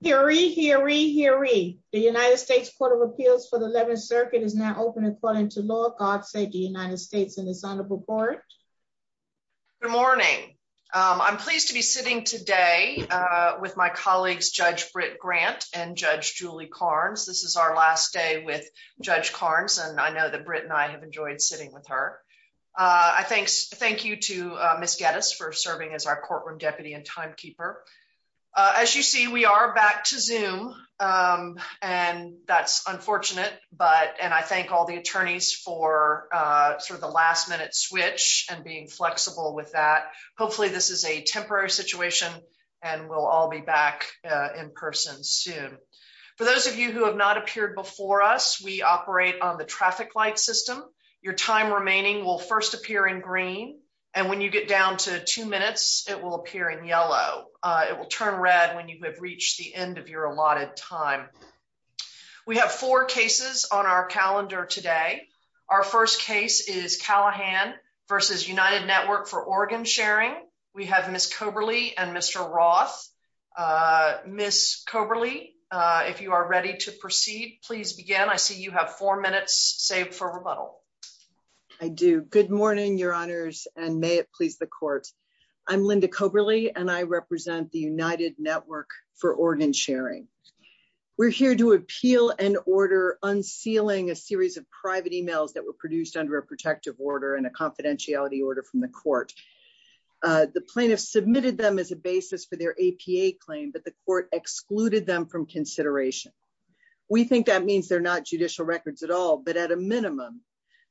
Hear ye, hear ye, hear ye. The United States Court of Appeals for the 11th Circuit is now open according to law. God save the United States and His Honorable Court. Good morning. I'm pleased to be sitting today with my colleagues Judge Britt Grant and Judge Julie Carnes. This is our last day with Judge Carnes and I know that Britt and I have enjoyed sitting with her. I thank you to Ms. Geddes for serving as our courtroom deputy and timekeeper. As you see we are back to Zoom and that's unfortunate but and I thank all the attorneys for sort of the last minute switch and being flexible with that. Hopefully this is a temporary situation and we'll all be back in person soon. For those of you who have not appeared before us, we operate on the traffic light system. Your time remaining will first appear in green and when you get down to two minutes it will appear in yellow. It will turn red when you have reached the end of your allotted time. We have four cases on our calendar today. Our first case is Callahan v. United Network for Organ Sharing. We have Ms. Coberly and Mr. Roth. Ms. Coberly, if you are ready to proceed, please begin. I see you have four minutes saved for rebuttal. I do. Good morning, your honors, and may it please the court. I'm Linda Coberly and I represent the United Network for Organ Sharing. We're here to appeal and order unsealing a series of private emails that were produced under a protective order and a confidentiality order from the court. The plaintiffs submitted them as a basis for their APA claim but the court excluded them from consideration. We think that means they're not judicial records at all, but at a minimum,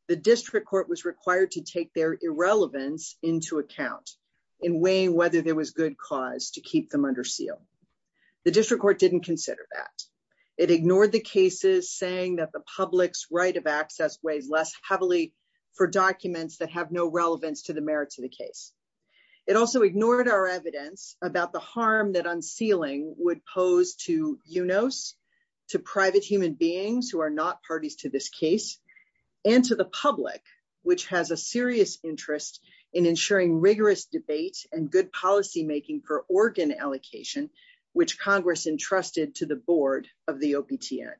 the district court was required to take their irrelevance into account in weighing whether there was good cause to keep them under seal. The district court didn't consider that. It ignored the cases saying that the public's right of access weighs less heavily for documents that have no relevance to the merits of the case. It also ignored our evidence about the case and to the public, which has a serious interest in ensuring rigorous debate and good policymaking for organ allocation, which Congress entrusted to the board of the OPTN.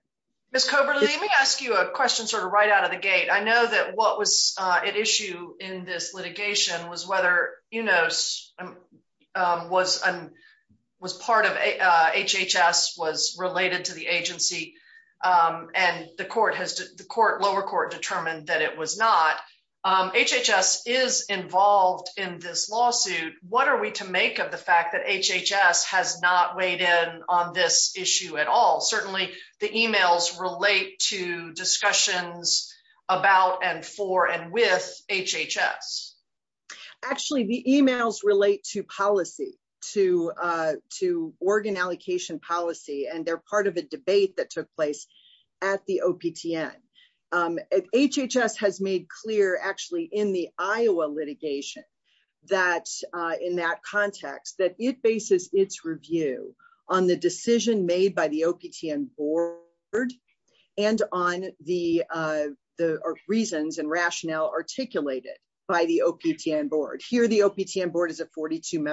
Ms. Coberly, let me ask you a question sort of right out of the gate. I know that what was at issue in this lower court determined that it was not. HHS is involved in this lawsuit. What are we to make of the fact that HHS has not weighed in on this issue at all? Certainly, the emails relate to discussions about and for and with HHS. Actually, the emails relate to policy, to organ allocation policy, and they're part of a debate that took place at the OPTN. HHS has made clear, actually, in the Iowa litigation in that context that it bases its review on the decision made by the OPTN board and on the reasons and rationale articulated by the OPTN board. Here, the OPTN board is a 42 in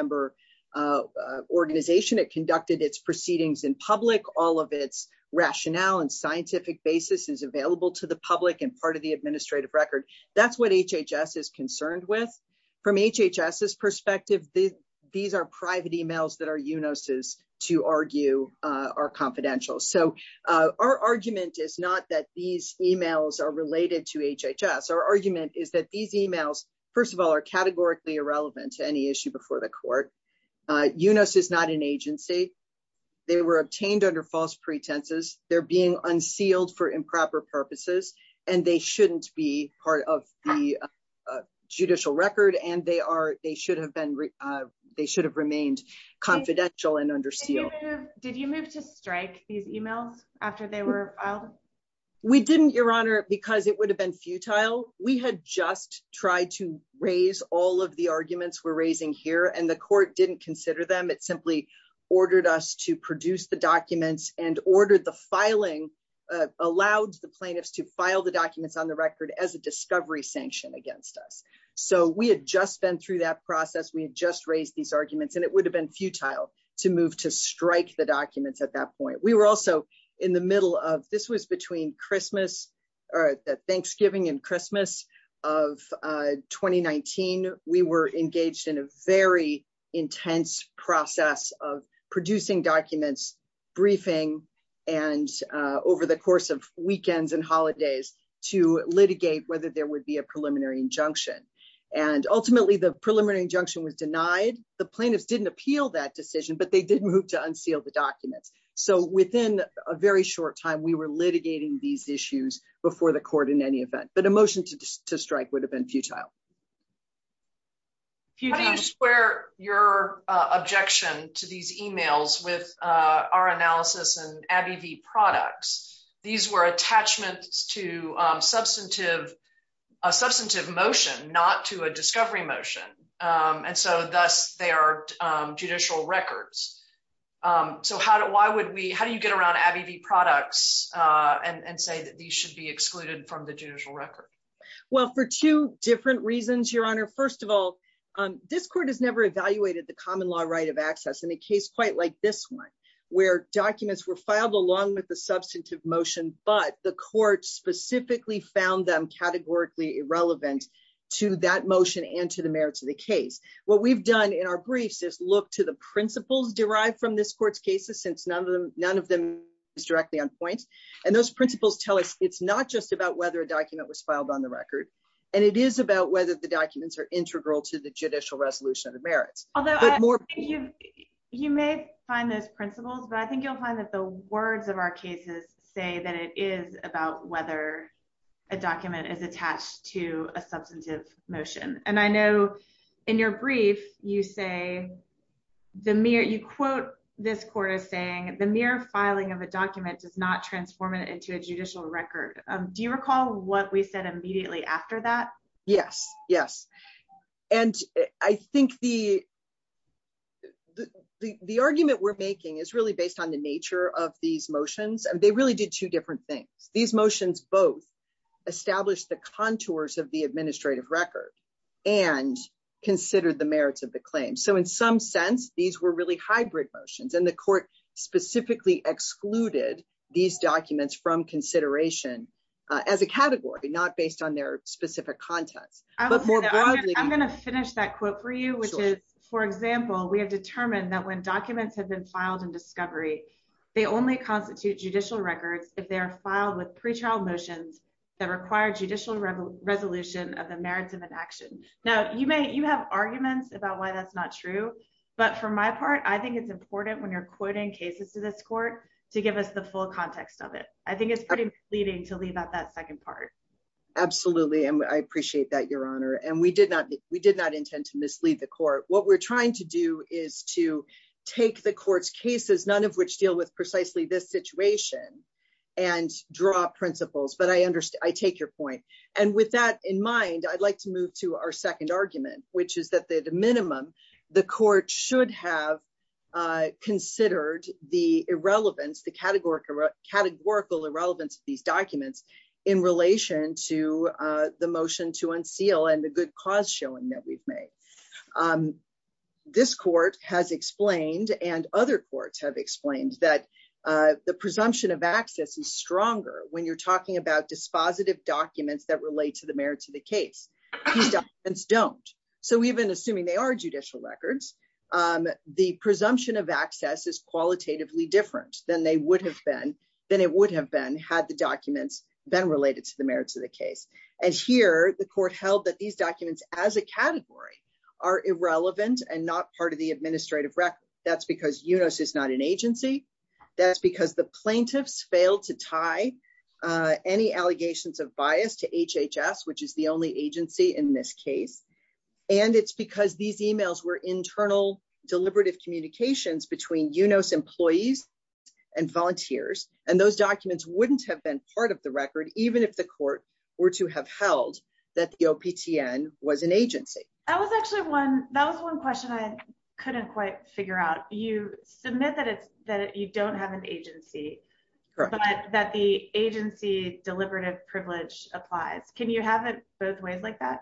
public. All of its rationale and scientific basis is available to the public and part of the administrative record. That's what HHS is concerned with. From HHS's perspective, these are private emails that are UNOS's to argue are confidential. Our argument is not that these emails are related to HHS. Our argument is that these emails, first of all, are categorically irrelevant to any issue before the court. UNOS is not an agency. They were obtained under false pretenses. They're being unsealed for improper purposes. They shouldn't be part of the judicial record. They should have remained confidential and under seal. Did you move to strike these emails after they were filed? We didn't, Your Honor, because it would have been futile. We had just tried to raise all of the arguments we're raising here, and the court didn't consider them. It simply ordered us to produce the documents and ordered the filing, allowed the plaintiffs to file the documents on the record as a discovery sanction against us. We had just been through that process. We had just raised these arguments, and it would have been futile to move to strike the documents at that point. We were also in the middle of, this was between Thanksgiving and Christmas of 2019, we were engaged in a very intense process of producing documents, briefing, and over the course of weekends and holidays to litigate whether there would be a preliminary injunction. Ultimately, the preliminary injunction was denied. The plaintiffs didn't appeal that decision, but they did move to unseal the documents. Within a very short time, we were litigating these but a motion to strike would have been futile. How do you square your objection to these emails with our analysis and Abbey v. Products? These were attachments to a substantive motion, not to a discovery motion, and so thus they are judicial records. How do you get around Abbey v. Products and say that these should be excluded from the judicial record? Well, for two different reasons, Your Honor. First of all, this court has never evaluated the common law right of access in a case quite like this one, where documents were filed along with the substantive motion, but the court specifically found them categorically irrelevant to that motion and to the merits of the case. What we've done in our briefs is look to the point, and those principles tell us it's not just about whether a document was filed on the record, and it is about whether the documents are integral to the judicial resolution of the merits. You may find those principles, but I think you'll find that the words of our cases say that it is about whether a document is attached to a substantive motion. I know in your brief, you say, you quote this court as saying, the mere filing of a document does not transform it into a judicial record. Do you recall what we said immediately after that? Yes, yes, and I think the argument we're making is really based on the nature of these motions, and they really did two different things. These motions both established the contours of the claims, so in some sense, these were really hybrid motions, and the court specifically excluded these documents from consideration as a category, not based on their specific context. I'm going to finish that quote for you, which is, for example, we have determined that when documents have been filed in discovery, they only constitute judicial records if they are filed with pretrial motions that require judicial resolution of the merits of an action. Now, you have arguments about why that's not true, but for my part, I think it's important when you're quoting cases to this court to give us the full context of it. I think it's pretty misleading to leave out that second part. Absolutely, and I appreciate that, Your Honor, and we did not intend to mislead the court. What we're trying to do is to take the court's cases, none of which deal with precisely this situation, and draw principles, but I take your point. With that in mind, I'd like to move to our second argument, which is that, at a minimum, the court should have considered the categorical irrelevance of these documents in relation to the motion to unseal and the good cause showing that we've made. This court has explained, and other courts have explained, that the presumption of access is dispositive documents that relate to the merits of the case. These documents don't, so even assuming they are judicial records, the presumption of access is qualitatively different than it would have been had the documents been related to the merits of the case. Here, the court held that these documents, as a category, are irrelevant and not part of the administrative record. That's UNOS is not an agency. That's because the plaintiffs failed to tie any allegations of bias to HHS, which is the only agency in this case, and it's because these emails were internal deliberative communications between UNOS employees and volunteers, and those documents wouldn't have been part of the record, even if the court were to have held that the OPTN was an agency. That was actually one question I couldn't quite figure out. You submit that you don't have an agency, but that the agency deliberative privilege applies. Can you have it both ways like that?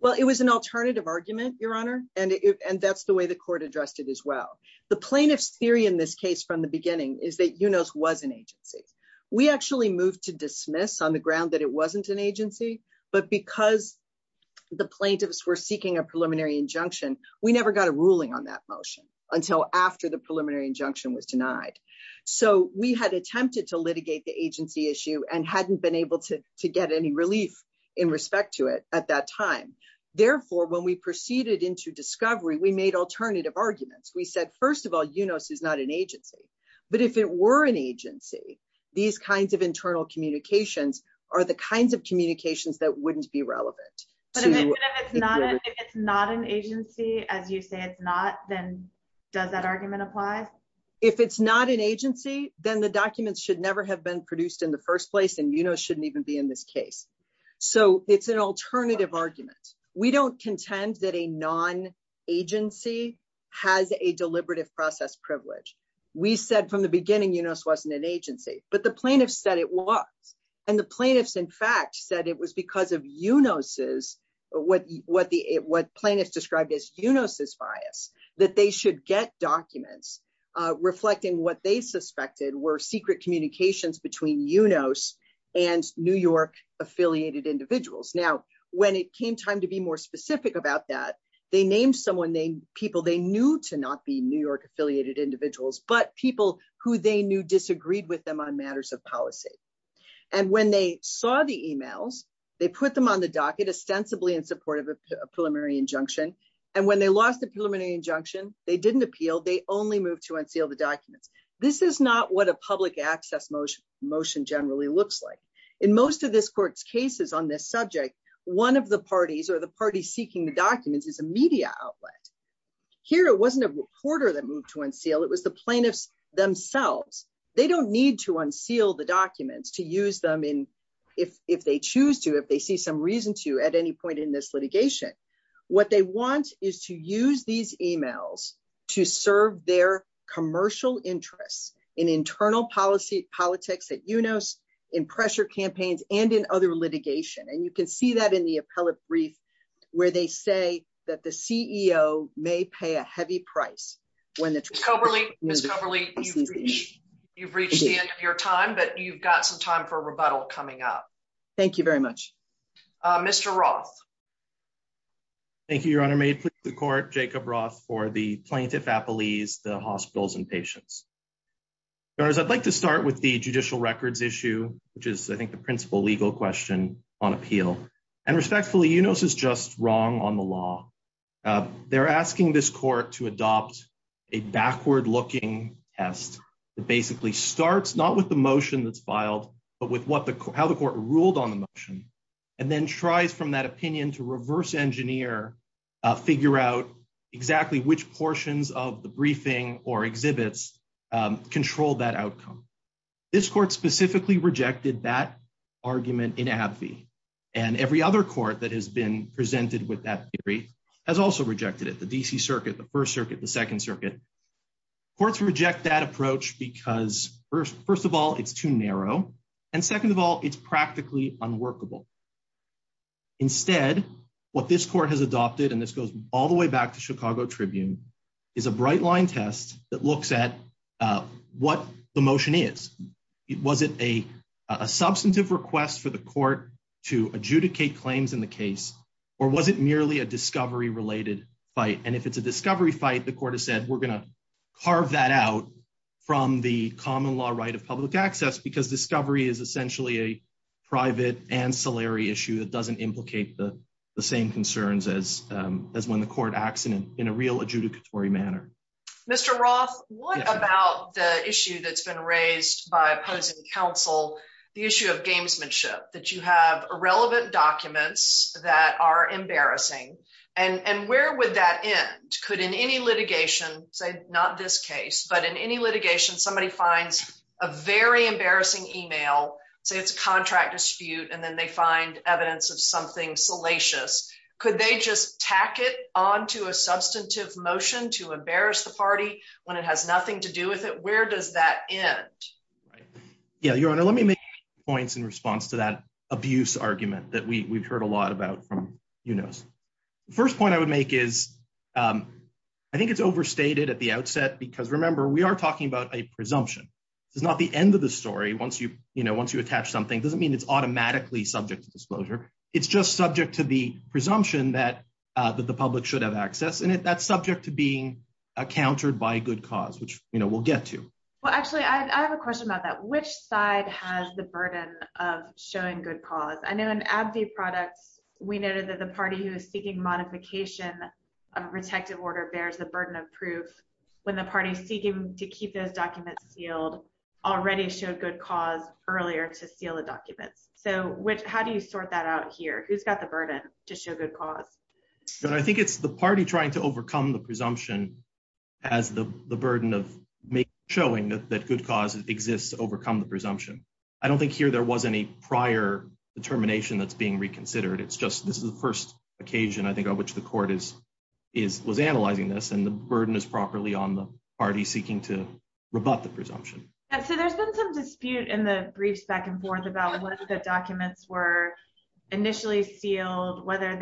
Well, it was an alternative argument, Your Honor, and that's the way the court addressed it as well. The plaintiff's theory in this case from the beginning is that UNOS was an agency. We actually moved to dismiss on the ground that it wasn't an agency, but because the plaintiffs were seeking a preliminary injunction, we never got a ruling on that motion until after the preliminary injunction was denied. So we had attempted to litigate the agency issue and hadn't been able to get any relief in respect to it at that time. Therefore, when we proceeded into discovery, we made alternative arguments. We said, first of all, UNOS is not an agency, but if it were an agency, these kinds of internal communications are the kinds of If it's not an agency, as you say it's not, then does that argument apply? If it's not an agency, then the documents should never have been produced in the first place, and UNOS shouldn't even be in this case. So it's an alternative argument. We don't contend that a non-agency has a deliberative process privilege. We said from the beginning UNOS wasn't an agency, but the plaintiffs said it was, and the plaintiffs, in fact, said it was because of UNOS's bias, what plaintiffs described as UNOS's bias, that they should get documents reflecting what they suspected were secret communications between UNOS and New York-affiliated individuals. Now, when it came time to be more specific about that, they named people they knew to not be New York-affiliated individuals, but people who they knew disagreed with them on matters of policy. And when they saw the emails, they put them on the docket ostensibly in support of a preliminary injunction, and when they lost the preliminary injunction, they didn't appeal, they only moved to unseal the documents. This is not what a public access motion generally looks like. In most of this court's cases on this subject, one of the parties or the parties seeking the documents is a media outlet. Here, it wasn't a reporter that moved to unseal, it was the plaintiffs themselves. They don't need to unseal the documents to use them if they choose to, if they see some reason to at any point in this litigation. What they want is to use these emails to serve their commercial interests in internal policy, politics at UNOS, in pressure campaigns, and in other litigation. And you can see that in the appellate brief where they say that the CEO may pay a heavy price. Ms. Coberly, you've reached the end of your time, but you've got some time for rebuttal coming up. Thank you very much. Mr. Roth. Thank you, Your Honor. May it please the court, Jacob Roth for the plaintiff appellees, the hospitals and patients. I'd like to start with the judicial records issue, which is I think the principal legal question on appeal. And respectfully, UNOS is just wrong on the law. They're asking this court to adopt a backward looking test that basically starts not with the motion that's filed, but with how the court ruled on the motion, and then tries from that opinion to reverse engineer, figure out exactly which portions of the briefing or exhibits control that outcome. This court specifically rejected that argument in AbbVie, and every other court that has been presented with that theory has also rejected it. The DC Circuit, the First Circuit, the Second Circuit. Courts reject that approach because first of all, it's too narrow. And second of all, it's practically unworkable. Instead, what this court has adopted, and this goes all the way back to Chicago Tribune, is a bright line test that in the case, or was it merely a discovery related fight? And if it's a discovery fight, the court has said, we're going to carve that out from the common law right of public access, because discovery is essentially a private ancillary issue that doesn't implicate the same concerns as when the court acts in a real adjudicatory manner. Mr. Roth, what about the issue that's been raised by opposing counsel, the issue of gamesmanship, that you have irrelevant documents that are embarrassing, and where would that end? Could in any litigation, say, not this case, but in any litigation, somebody finds a very embarrassing email, say it's a contract dispute, and then they find evidence of something salacious. Could they just tack it onto a substantive motion to embarrass the party when it has nothing to do with it? Where does that end? Yeah, Your Honor, let me make points in response to that abuse argument that we've heard a lot about from UNOS. The first point I would make is, I think it's overstated at the outset, because remember, we are talking about a presumption. This is not the end of the story. Once you attach something, it doesn't mean it's automatically subject to disclosure. It's just subject to the presumption that the public should have access, and that's subject to being countered by good cause, which we'll get to. Well, actually, I have a question about that. Which side has the burden of showing good cause? I know in Abdi Products, we noted that the party who is seeking modification of a protective order bears the burden of proof when the party seeking to keep those documents sealed already showed good cause earlier to seal the documents. How do you sort that out here? Who's got the burden to show good cause? I think it's the party trying to overcome the presumption as the burden of showing that good cause exists to overcome the presumption. I don't think here there was any prior determination that's being reconsidered. It's just this is the first occasion, I think, on which the court was analyzing this, and the burden is properly on the party seeking to rebut the presumption. So there's been some dispute in the briefs back and forth about what the documents were initially sealed, how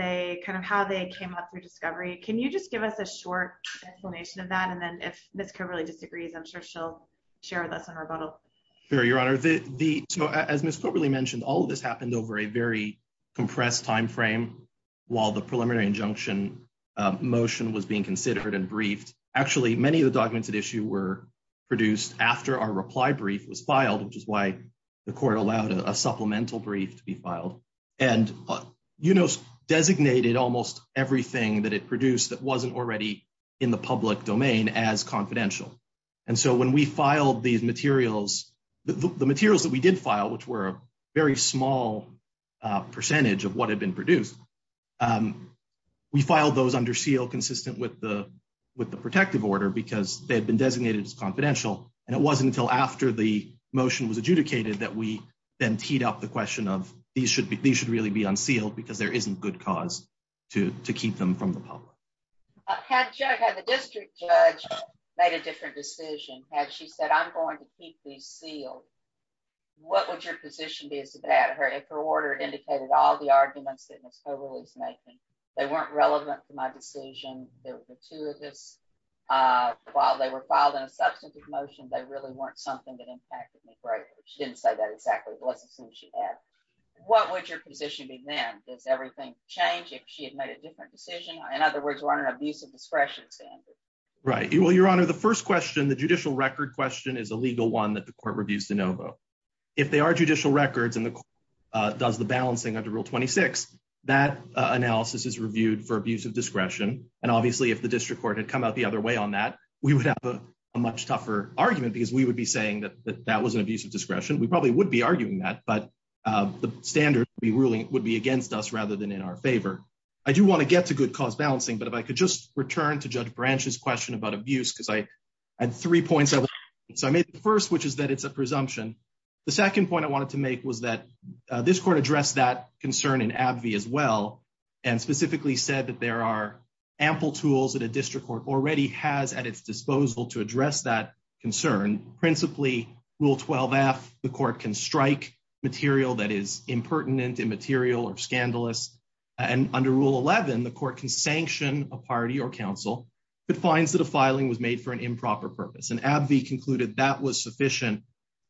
they came up through discovery. Can you just give us a short explanation of that? And then if Ms. Coberly disagrees, I'm sure she'll share with us in rebuttal. Sure, Your Honor. As Ms. Coberly mentioned, all of this happened over a very compressed time frame while the preliminary injunction motion was being considered and briefed. Actually, many of the documents at issue were produced after our reply brief was filed, which is why the court allowed a supplemental brief to be filed. And UNOS designated almost everything that it produced that wasn't already in the public domain as confidential. And so when we filed these materials, the materials that we did file, which were a very small percentage of what had been produced, we filed those under seal consistent with the protective order because they had been designated as confidential. And it wasn't until after the motion was adjudicated that we teed up the question of these should really be unsealed because there isn't good cause to keep them from the public. Had the district judge made a different decision? Had she said, I'm going to keep these sealed, what would your position be as to that? If her order indicated all the arguments that Ms. Coberly is making, they weren't relevant to my decision, they were gratuitous. While they were filed in a substantive motion, they really weren't something that impacted me greatly. She didn't say that exactly. It wasn't something she had. What would your position be then? Does everything change if she had made a different decision? In other words, we're on an abuse of discretion standard. Right. Well, your honor, the first question, the judicial record question is a legal one that the court reviews de novo. If they are judicial records and the court does the balancing under rule 26, that analysis is reviewed for abuse of discretion. And obviously if the district court had come out the other way on that, we would have a much tougher argument because we would be saying that that was an abuse of discretion. We probably would be arguing that, but the standard we ruling would be against us rather than in our favor. I do want to get to good cause balancing, but if I could just return to Judge Branch's question about abuse, because I had three points. So I made the first, which is that it's a presumption. The second point I wanted to make was that this court addressed that concern in AbbVie as well, and specifically said that there are ample tools that a district court already has at its disposal to address that concern. Principally rule 12F, the court can strike material that is impertinent, immaterial, or scandalous. And under rule 11, the court can sanction a party or council that finds that a filing was made for an improper purpose. And AbbVie concluded that was sufficient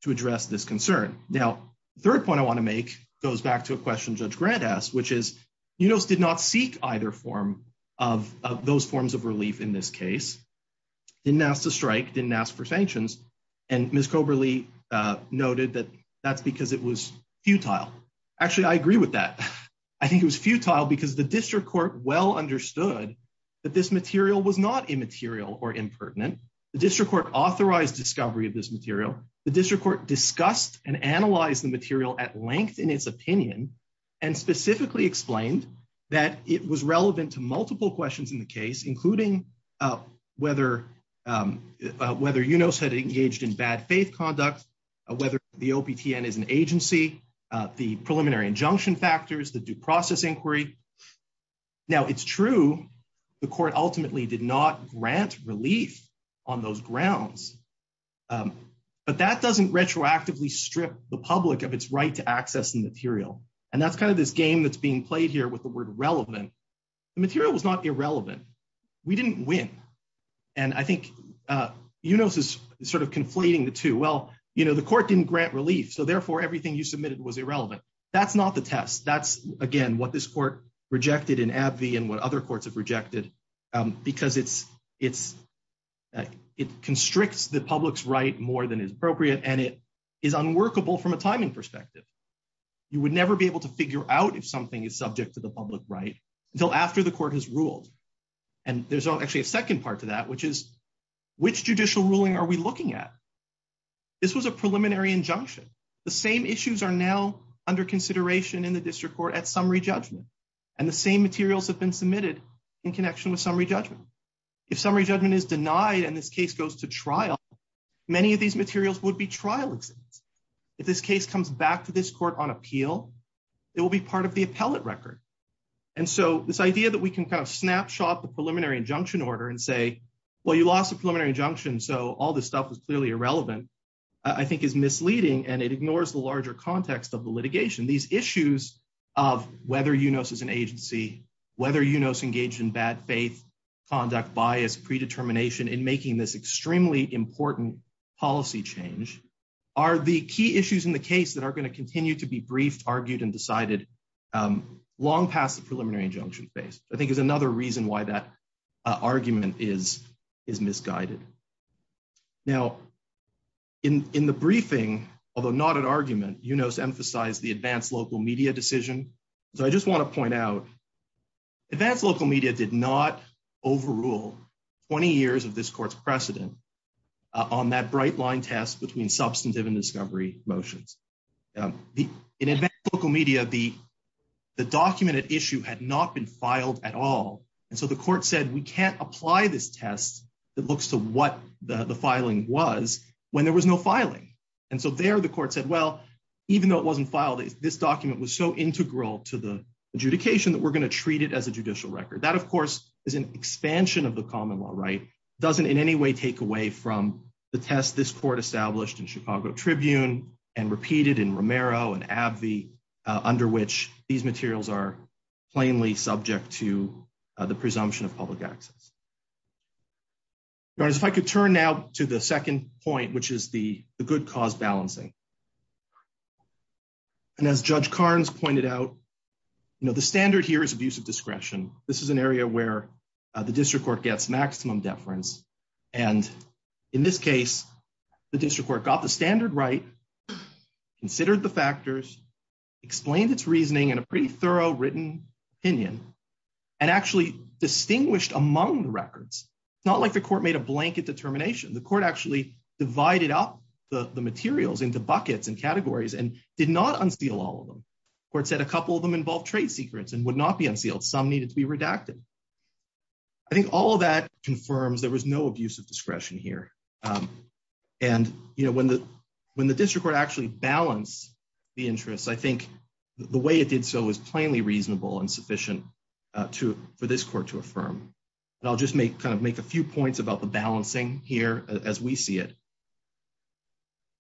to address this concern. Now, the third point I want to make goes back to a question Judge Grant asked, which is UNOS did not seek either form of those forms of relief in this case. Didn't ask to strike, didn't ask for sanctions, and Ms. Coberly noted that that's because it was futile. Actually, I agree with that. I think it was futile because the district court well understood that this material was not immaterial or impertinent. The district court authorized discovery of this material. The district court discussed and analyzed the material at length in its opinion, and specifically explained that it was relevant to multiple questions in the case, including whether UNOS had engaged in bad faith conduct, whether the OPTN is an agency, the preliminary injunction factors, the due process inquiry. Now, it's true the court ultimately did not grant relief on those grounds, but that doesn't retroactively strip the public of its right to access the material. And that's kind of this game that's being played here with the word relevant. The material was not irrelevant. We didn't win. And I think UNOS is sort of conflating the two. Well, you know, the court didn't grant relief, so therefore everything you submitted was irrelevant. That's not the test. That's, again, what this court rejected in AbbVie and what other courts have rejected because it constricts the public's right more than is appropriate, and it is unworkable from a timing perspective. You would never be able to figure out if something is subject to the public right until after the court has ruled. And there's actually a second part to that, which is which judicial ruling are we looking at? This was a preliminary injunction. The same issues are now under consideration in the district court at summary judgment, and the same materials have been submitted in connection with summary judgment. If summary judgment is denied and this case goes to trial, many of these materials would be trial exhibits. If this case comes back to this court on appeal, it will be part of the appellate record. And so this idea that we can kind of snapshot the preliminary injunction order and say, well, you lost a preliminary injunction, so all this stuff is clearly irrelevant, I think is misleading, and it ignores the larger context of the litigation. These issues of whether UNOS is an agency, whether UNOS engaged in bad faith, conduct bias, predetermination in making this extremely important policy change, are the key issues in the case that are going to continue to be briefed, argued, and decided long past the preliminary injunction phase. I think is another reason why that argument is misguided. Now, in the briefing, although not an argument, UNOS emphasized the advanced local media decision. So I just want to point out advanced local media did not overrule 20 years of this court's precedent on that bright line test between substantive and discovery motions. In advanced local media, the document at issue had not been filed at all. And so the court said, we can't apply this test that looks to what the filing was when there was no filing. And so there the court said, well, even though it wasn't filed, this document was so integral to the adjudication that we're going to treat it as a judicial record. That, of course, is an expansion of the common law, right? Doesn't in any way take away from the test this court established in Chicago Tribune and repeated in Romero and Abbey, under which these materials are plainly subject to the presumption of public access. If I could turn now to the second point, which is the good cause balancing. And as Judge Carnes pointed out, the standard here is abuse of discretion. This is an area where the district court gets maximum deference. And in this case, the district court got the standard right, considered the factors, explained its reasoning in a pretty thorough written opinion, and actually distinguished among the records. It's not like the court made a blanket determination. The court actually divided up the materials into buckets and categories and did not unseal all of them. The court said a couple of them involved trade secrets and would not be unsealed. Some needed to be redacted. I think all of that confirms there was no abuse of discretion here. And when the district court actually balanced the interests, I think the way it did so was plainly reasonable and sufficient for this court to affirm. And I'll just make a few points about the balancing here as we see it.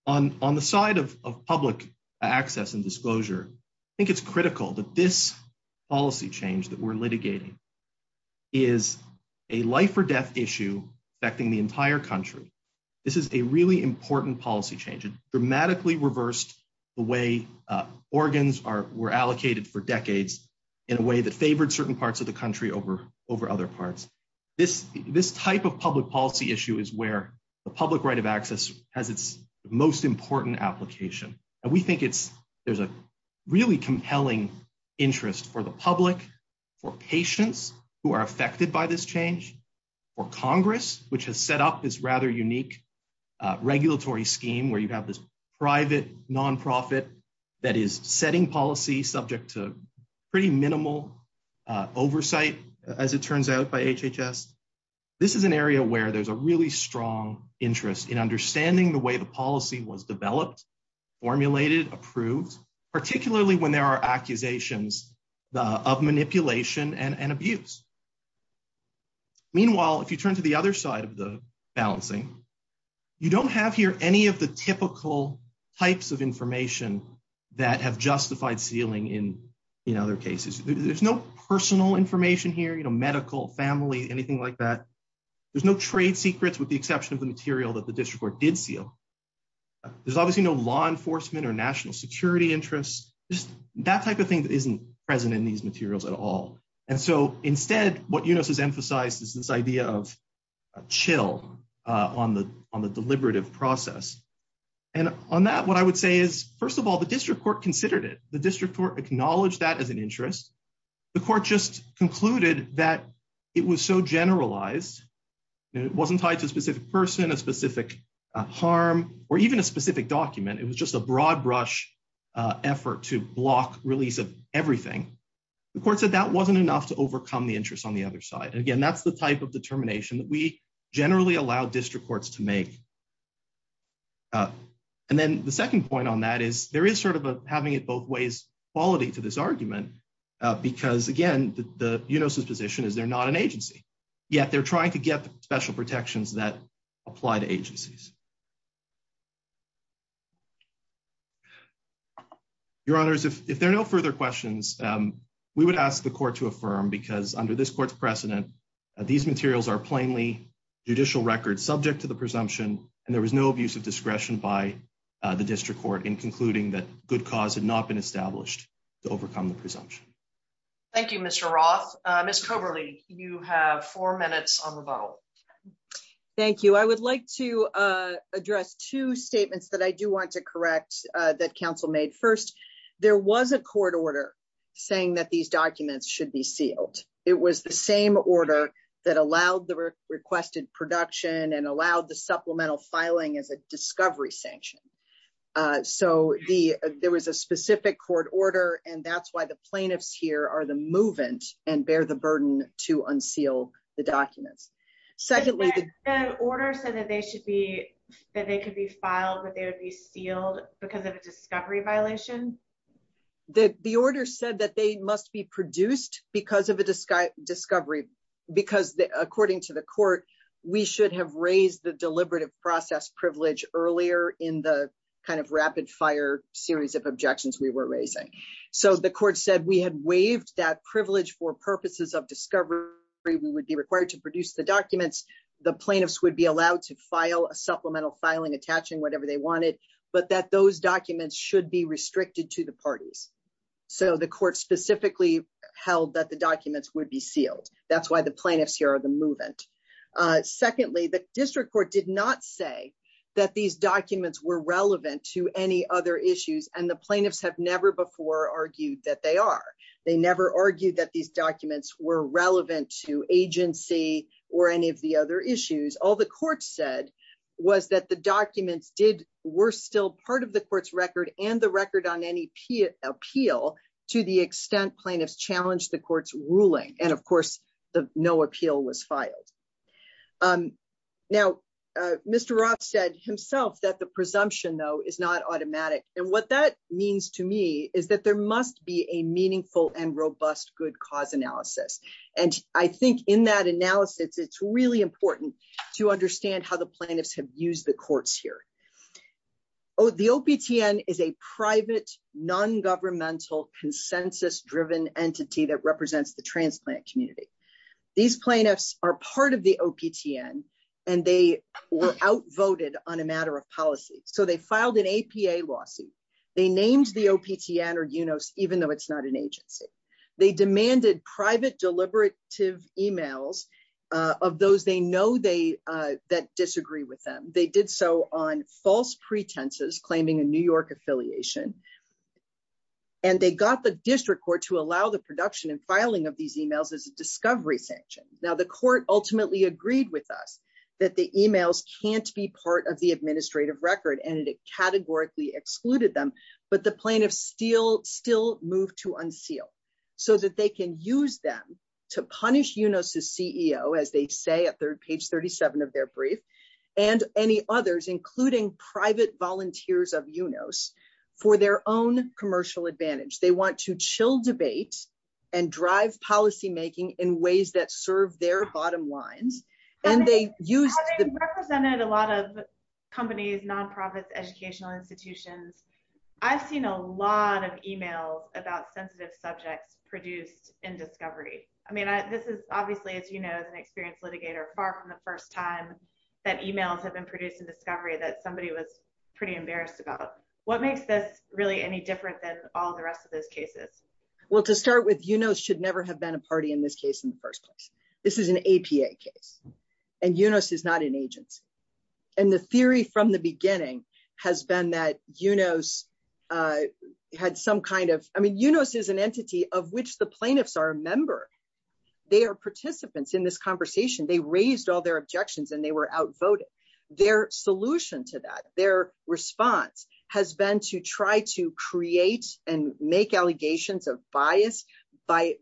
On the side of public access and disclosure, I think it's critical that this policy change that we're litigating is a life or death issue affecting the entire country. This is a really important policy change. It dramatically reversed the way organs were allocated for decades in a way that favored certain parts of the country over other parts. This type of public policy issue is where the public right of access has its most important application. And we think there's a really compelling interest for the public, for patients who are affected by this change, for Congress, which has set up this rather unique regulatory scheme where you have this private nonprofit that is setting policy subject to pretty minimal oversight, as it turns out by HHS. This is an area where there's a really strong interest in understanding the way the policy was developed, formulated, approved, particularly when there are accusations of manipulation and abuse. Meanwhile, if you turn to the other side of the balancing, you don't have here any of the typical types of information that have justified sealing in other cases. There's no personal information here, medical, family, anything like that. There's no trade secrets with the exception of the material that the district court did seal. There's obviously no law enforcement or national security interests, just that type of thing that isn't present in these materials at all. And so instead, what Eunice has emphasized is this idea of a chill on the deliberative process. And on that, what I would say is, first of all, the district court considered it, the district court acknowledged that as an interest. The court just concluded that it was so generalized, and it wasn't tied to a specific person, a specific harm, or even a specific to overcome the interest on the other side. And again, that's the type of determination that we generally allow district courts to make. And then the second point on that is there is sort of a having it both ways quality to this argument, because again, the Eunice's position is they're not an agency, yet they're trying to get special protections that apply to agencies. Your honors, if there are no further questions, we would ask the court to affirm because under this court's precedent, these materials are plainly judicial records subject to the presumption, and there was no abuse of discretion by the district court in concluding that good cause had not been established to overcome the presumption. Thank you, Mr. Roth. Ms. Coberley, you have four minutes on the vote. Thank you. I would like to address two statements that I do want to correct that counsel made. First, there was a court order saying that these documents should be sealed. It was the same order that allowed the requested production and allowed the supplemental filing as a discovery sanction. So there was a specific court order, and that's why the plaintiffs here are the movement and bear the burden to unseal the documents. Secondly, the order said that they should be, that they could be filed, but they would be sealed because of a discovery violation. The order said that they must be produced because of a discovery because according to the court, we should have raised the deliberative process privilege earlier in the kind of rapid fire series of objections we were raising. So the court said we had waived that privilege for purposes of discovery. We would be required to produce the documents. The plaintiffs would be allowed to file a supplemental filing attaching whatever they wanted, but that those documents should be restricted to the parties. So the court specifically held that the documents would be sealed. That's why the plaintiffs here are the movement. Secondly, the district court did not say that these documents were relevant to any other issues, and the plaintiffs have never before argued that they are. They never argued that these documents were relevant to agency or any of the other issues. All the court said was that the documents were still part of the court's record and the record on any appeal to the extent plaintiffs challenged the court's ruling. And of course, no appeal was filed. Now, Mr. Roth said himself that the presumption, though, is not automatic. And what that means to me is that there must be a meaningful and robust good cause analysis. And I think in that analysis, it's really important to understand how the plaintiffs have used the courts here. The OPTN is a private, non-governmental, consensus-driven entity that represents the OPTN. And they were outvoted on a matter of policy. So they filed an APA lawsuit. They named the OPTN or UNOS, even though it's not an agency. They demanded private, deliberative emails of those they know that disagree with them. They did so on false pretenses claiming a New York affiliation. And they got the district court to allow the production and filing these emails as a discovery sanction. Now, the court ultimately agreed with us that the emails can't be part of the administrative record. And it categorically excluded them. But the plaintiffs still moved to unseal so that they can use them to punish UNOS's CEO, as they say at page 37 of their brief, and any others, including private volunteers of UNOS, for their own commercial advantage. They want to chill debates and drive policymaking in ways that serve their bottom lines. Having represented a lot of companies, non-profits, educational institutions, I've seen a lot of emails about sensitive subjects produced in discovery. I mean, this is obviously, as you know, as an experienced litigator, far from the first time that emails have been produced in discovery that somebody was pretty embarrassed about. What makes this really any different than all the rest of those cases? Well, to start with, UNOS should never have been a party in this case in the first place. This is an APA case. And UNOS is not an agency. And the theory from the beginning has been that UNOS had some kind of... I mean, UNOS is an entity of which the plaintiffs are a member. They are participants in this conversation. They raised all their objections and they were outvoted. Their solution to that, their response has been to try to create and make allegations of bias by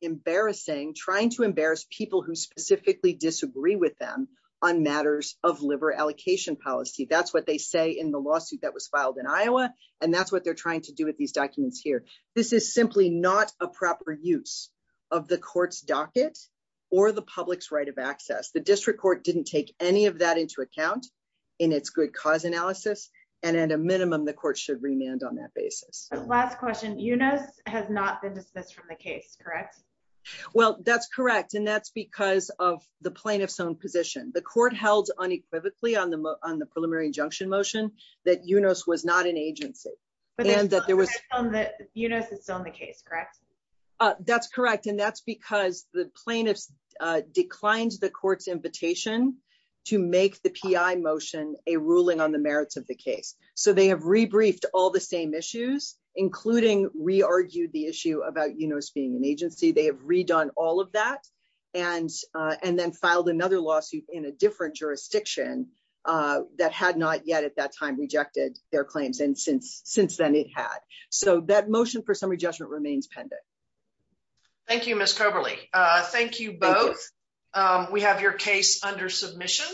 embarrassing, trying to embarrass people who specifically disagree with them on matters of liver allocation policy. That's what they say in the lawsuit that was filed in Iowa. And that's what they're trying to do with these documents here. This is simply not a proper use of the court's docket or the public's right of access. The district court didn't take any of that into account in its good cause analysis. And at a minimum, the court should remand on that basis. Last question, UNOS has not been dismissed from the case, correct? Well, that's correct. And that's because of the plaintiff's own position. The court held unequivocally on the preliminary injunction motion that UNOS was not an agency. But UNOS is still in the case, correct? That's correct. And that's because the plaintiff's declined the court's invitation to make the PI motion a ruling on the merits of the case. So they have re-briefed all the same issues, including re-argued the issue about UNOS being an agency. They have redone all of that and then filed another lawsuit in a different jurisdiction that had not yet at that time their claims. And since then it had. So that motion for summary judgment remains pending. Thank you, Ms. Coberly. Thank you both. We have your case under submission.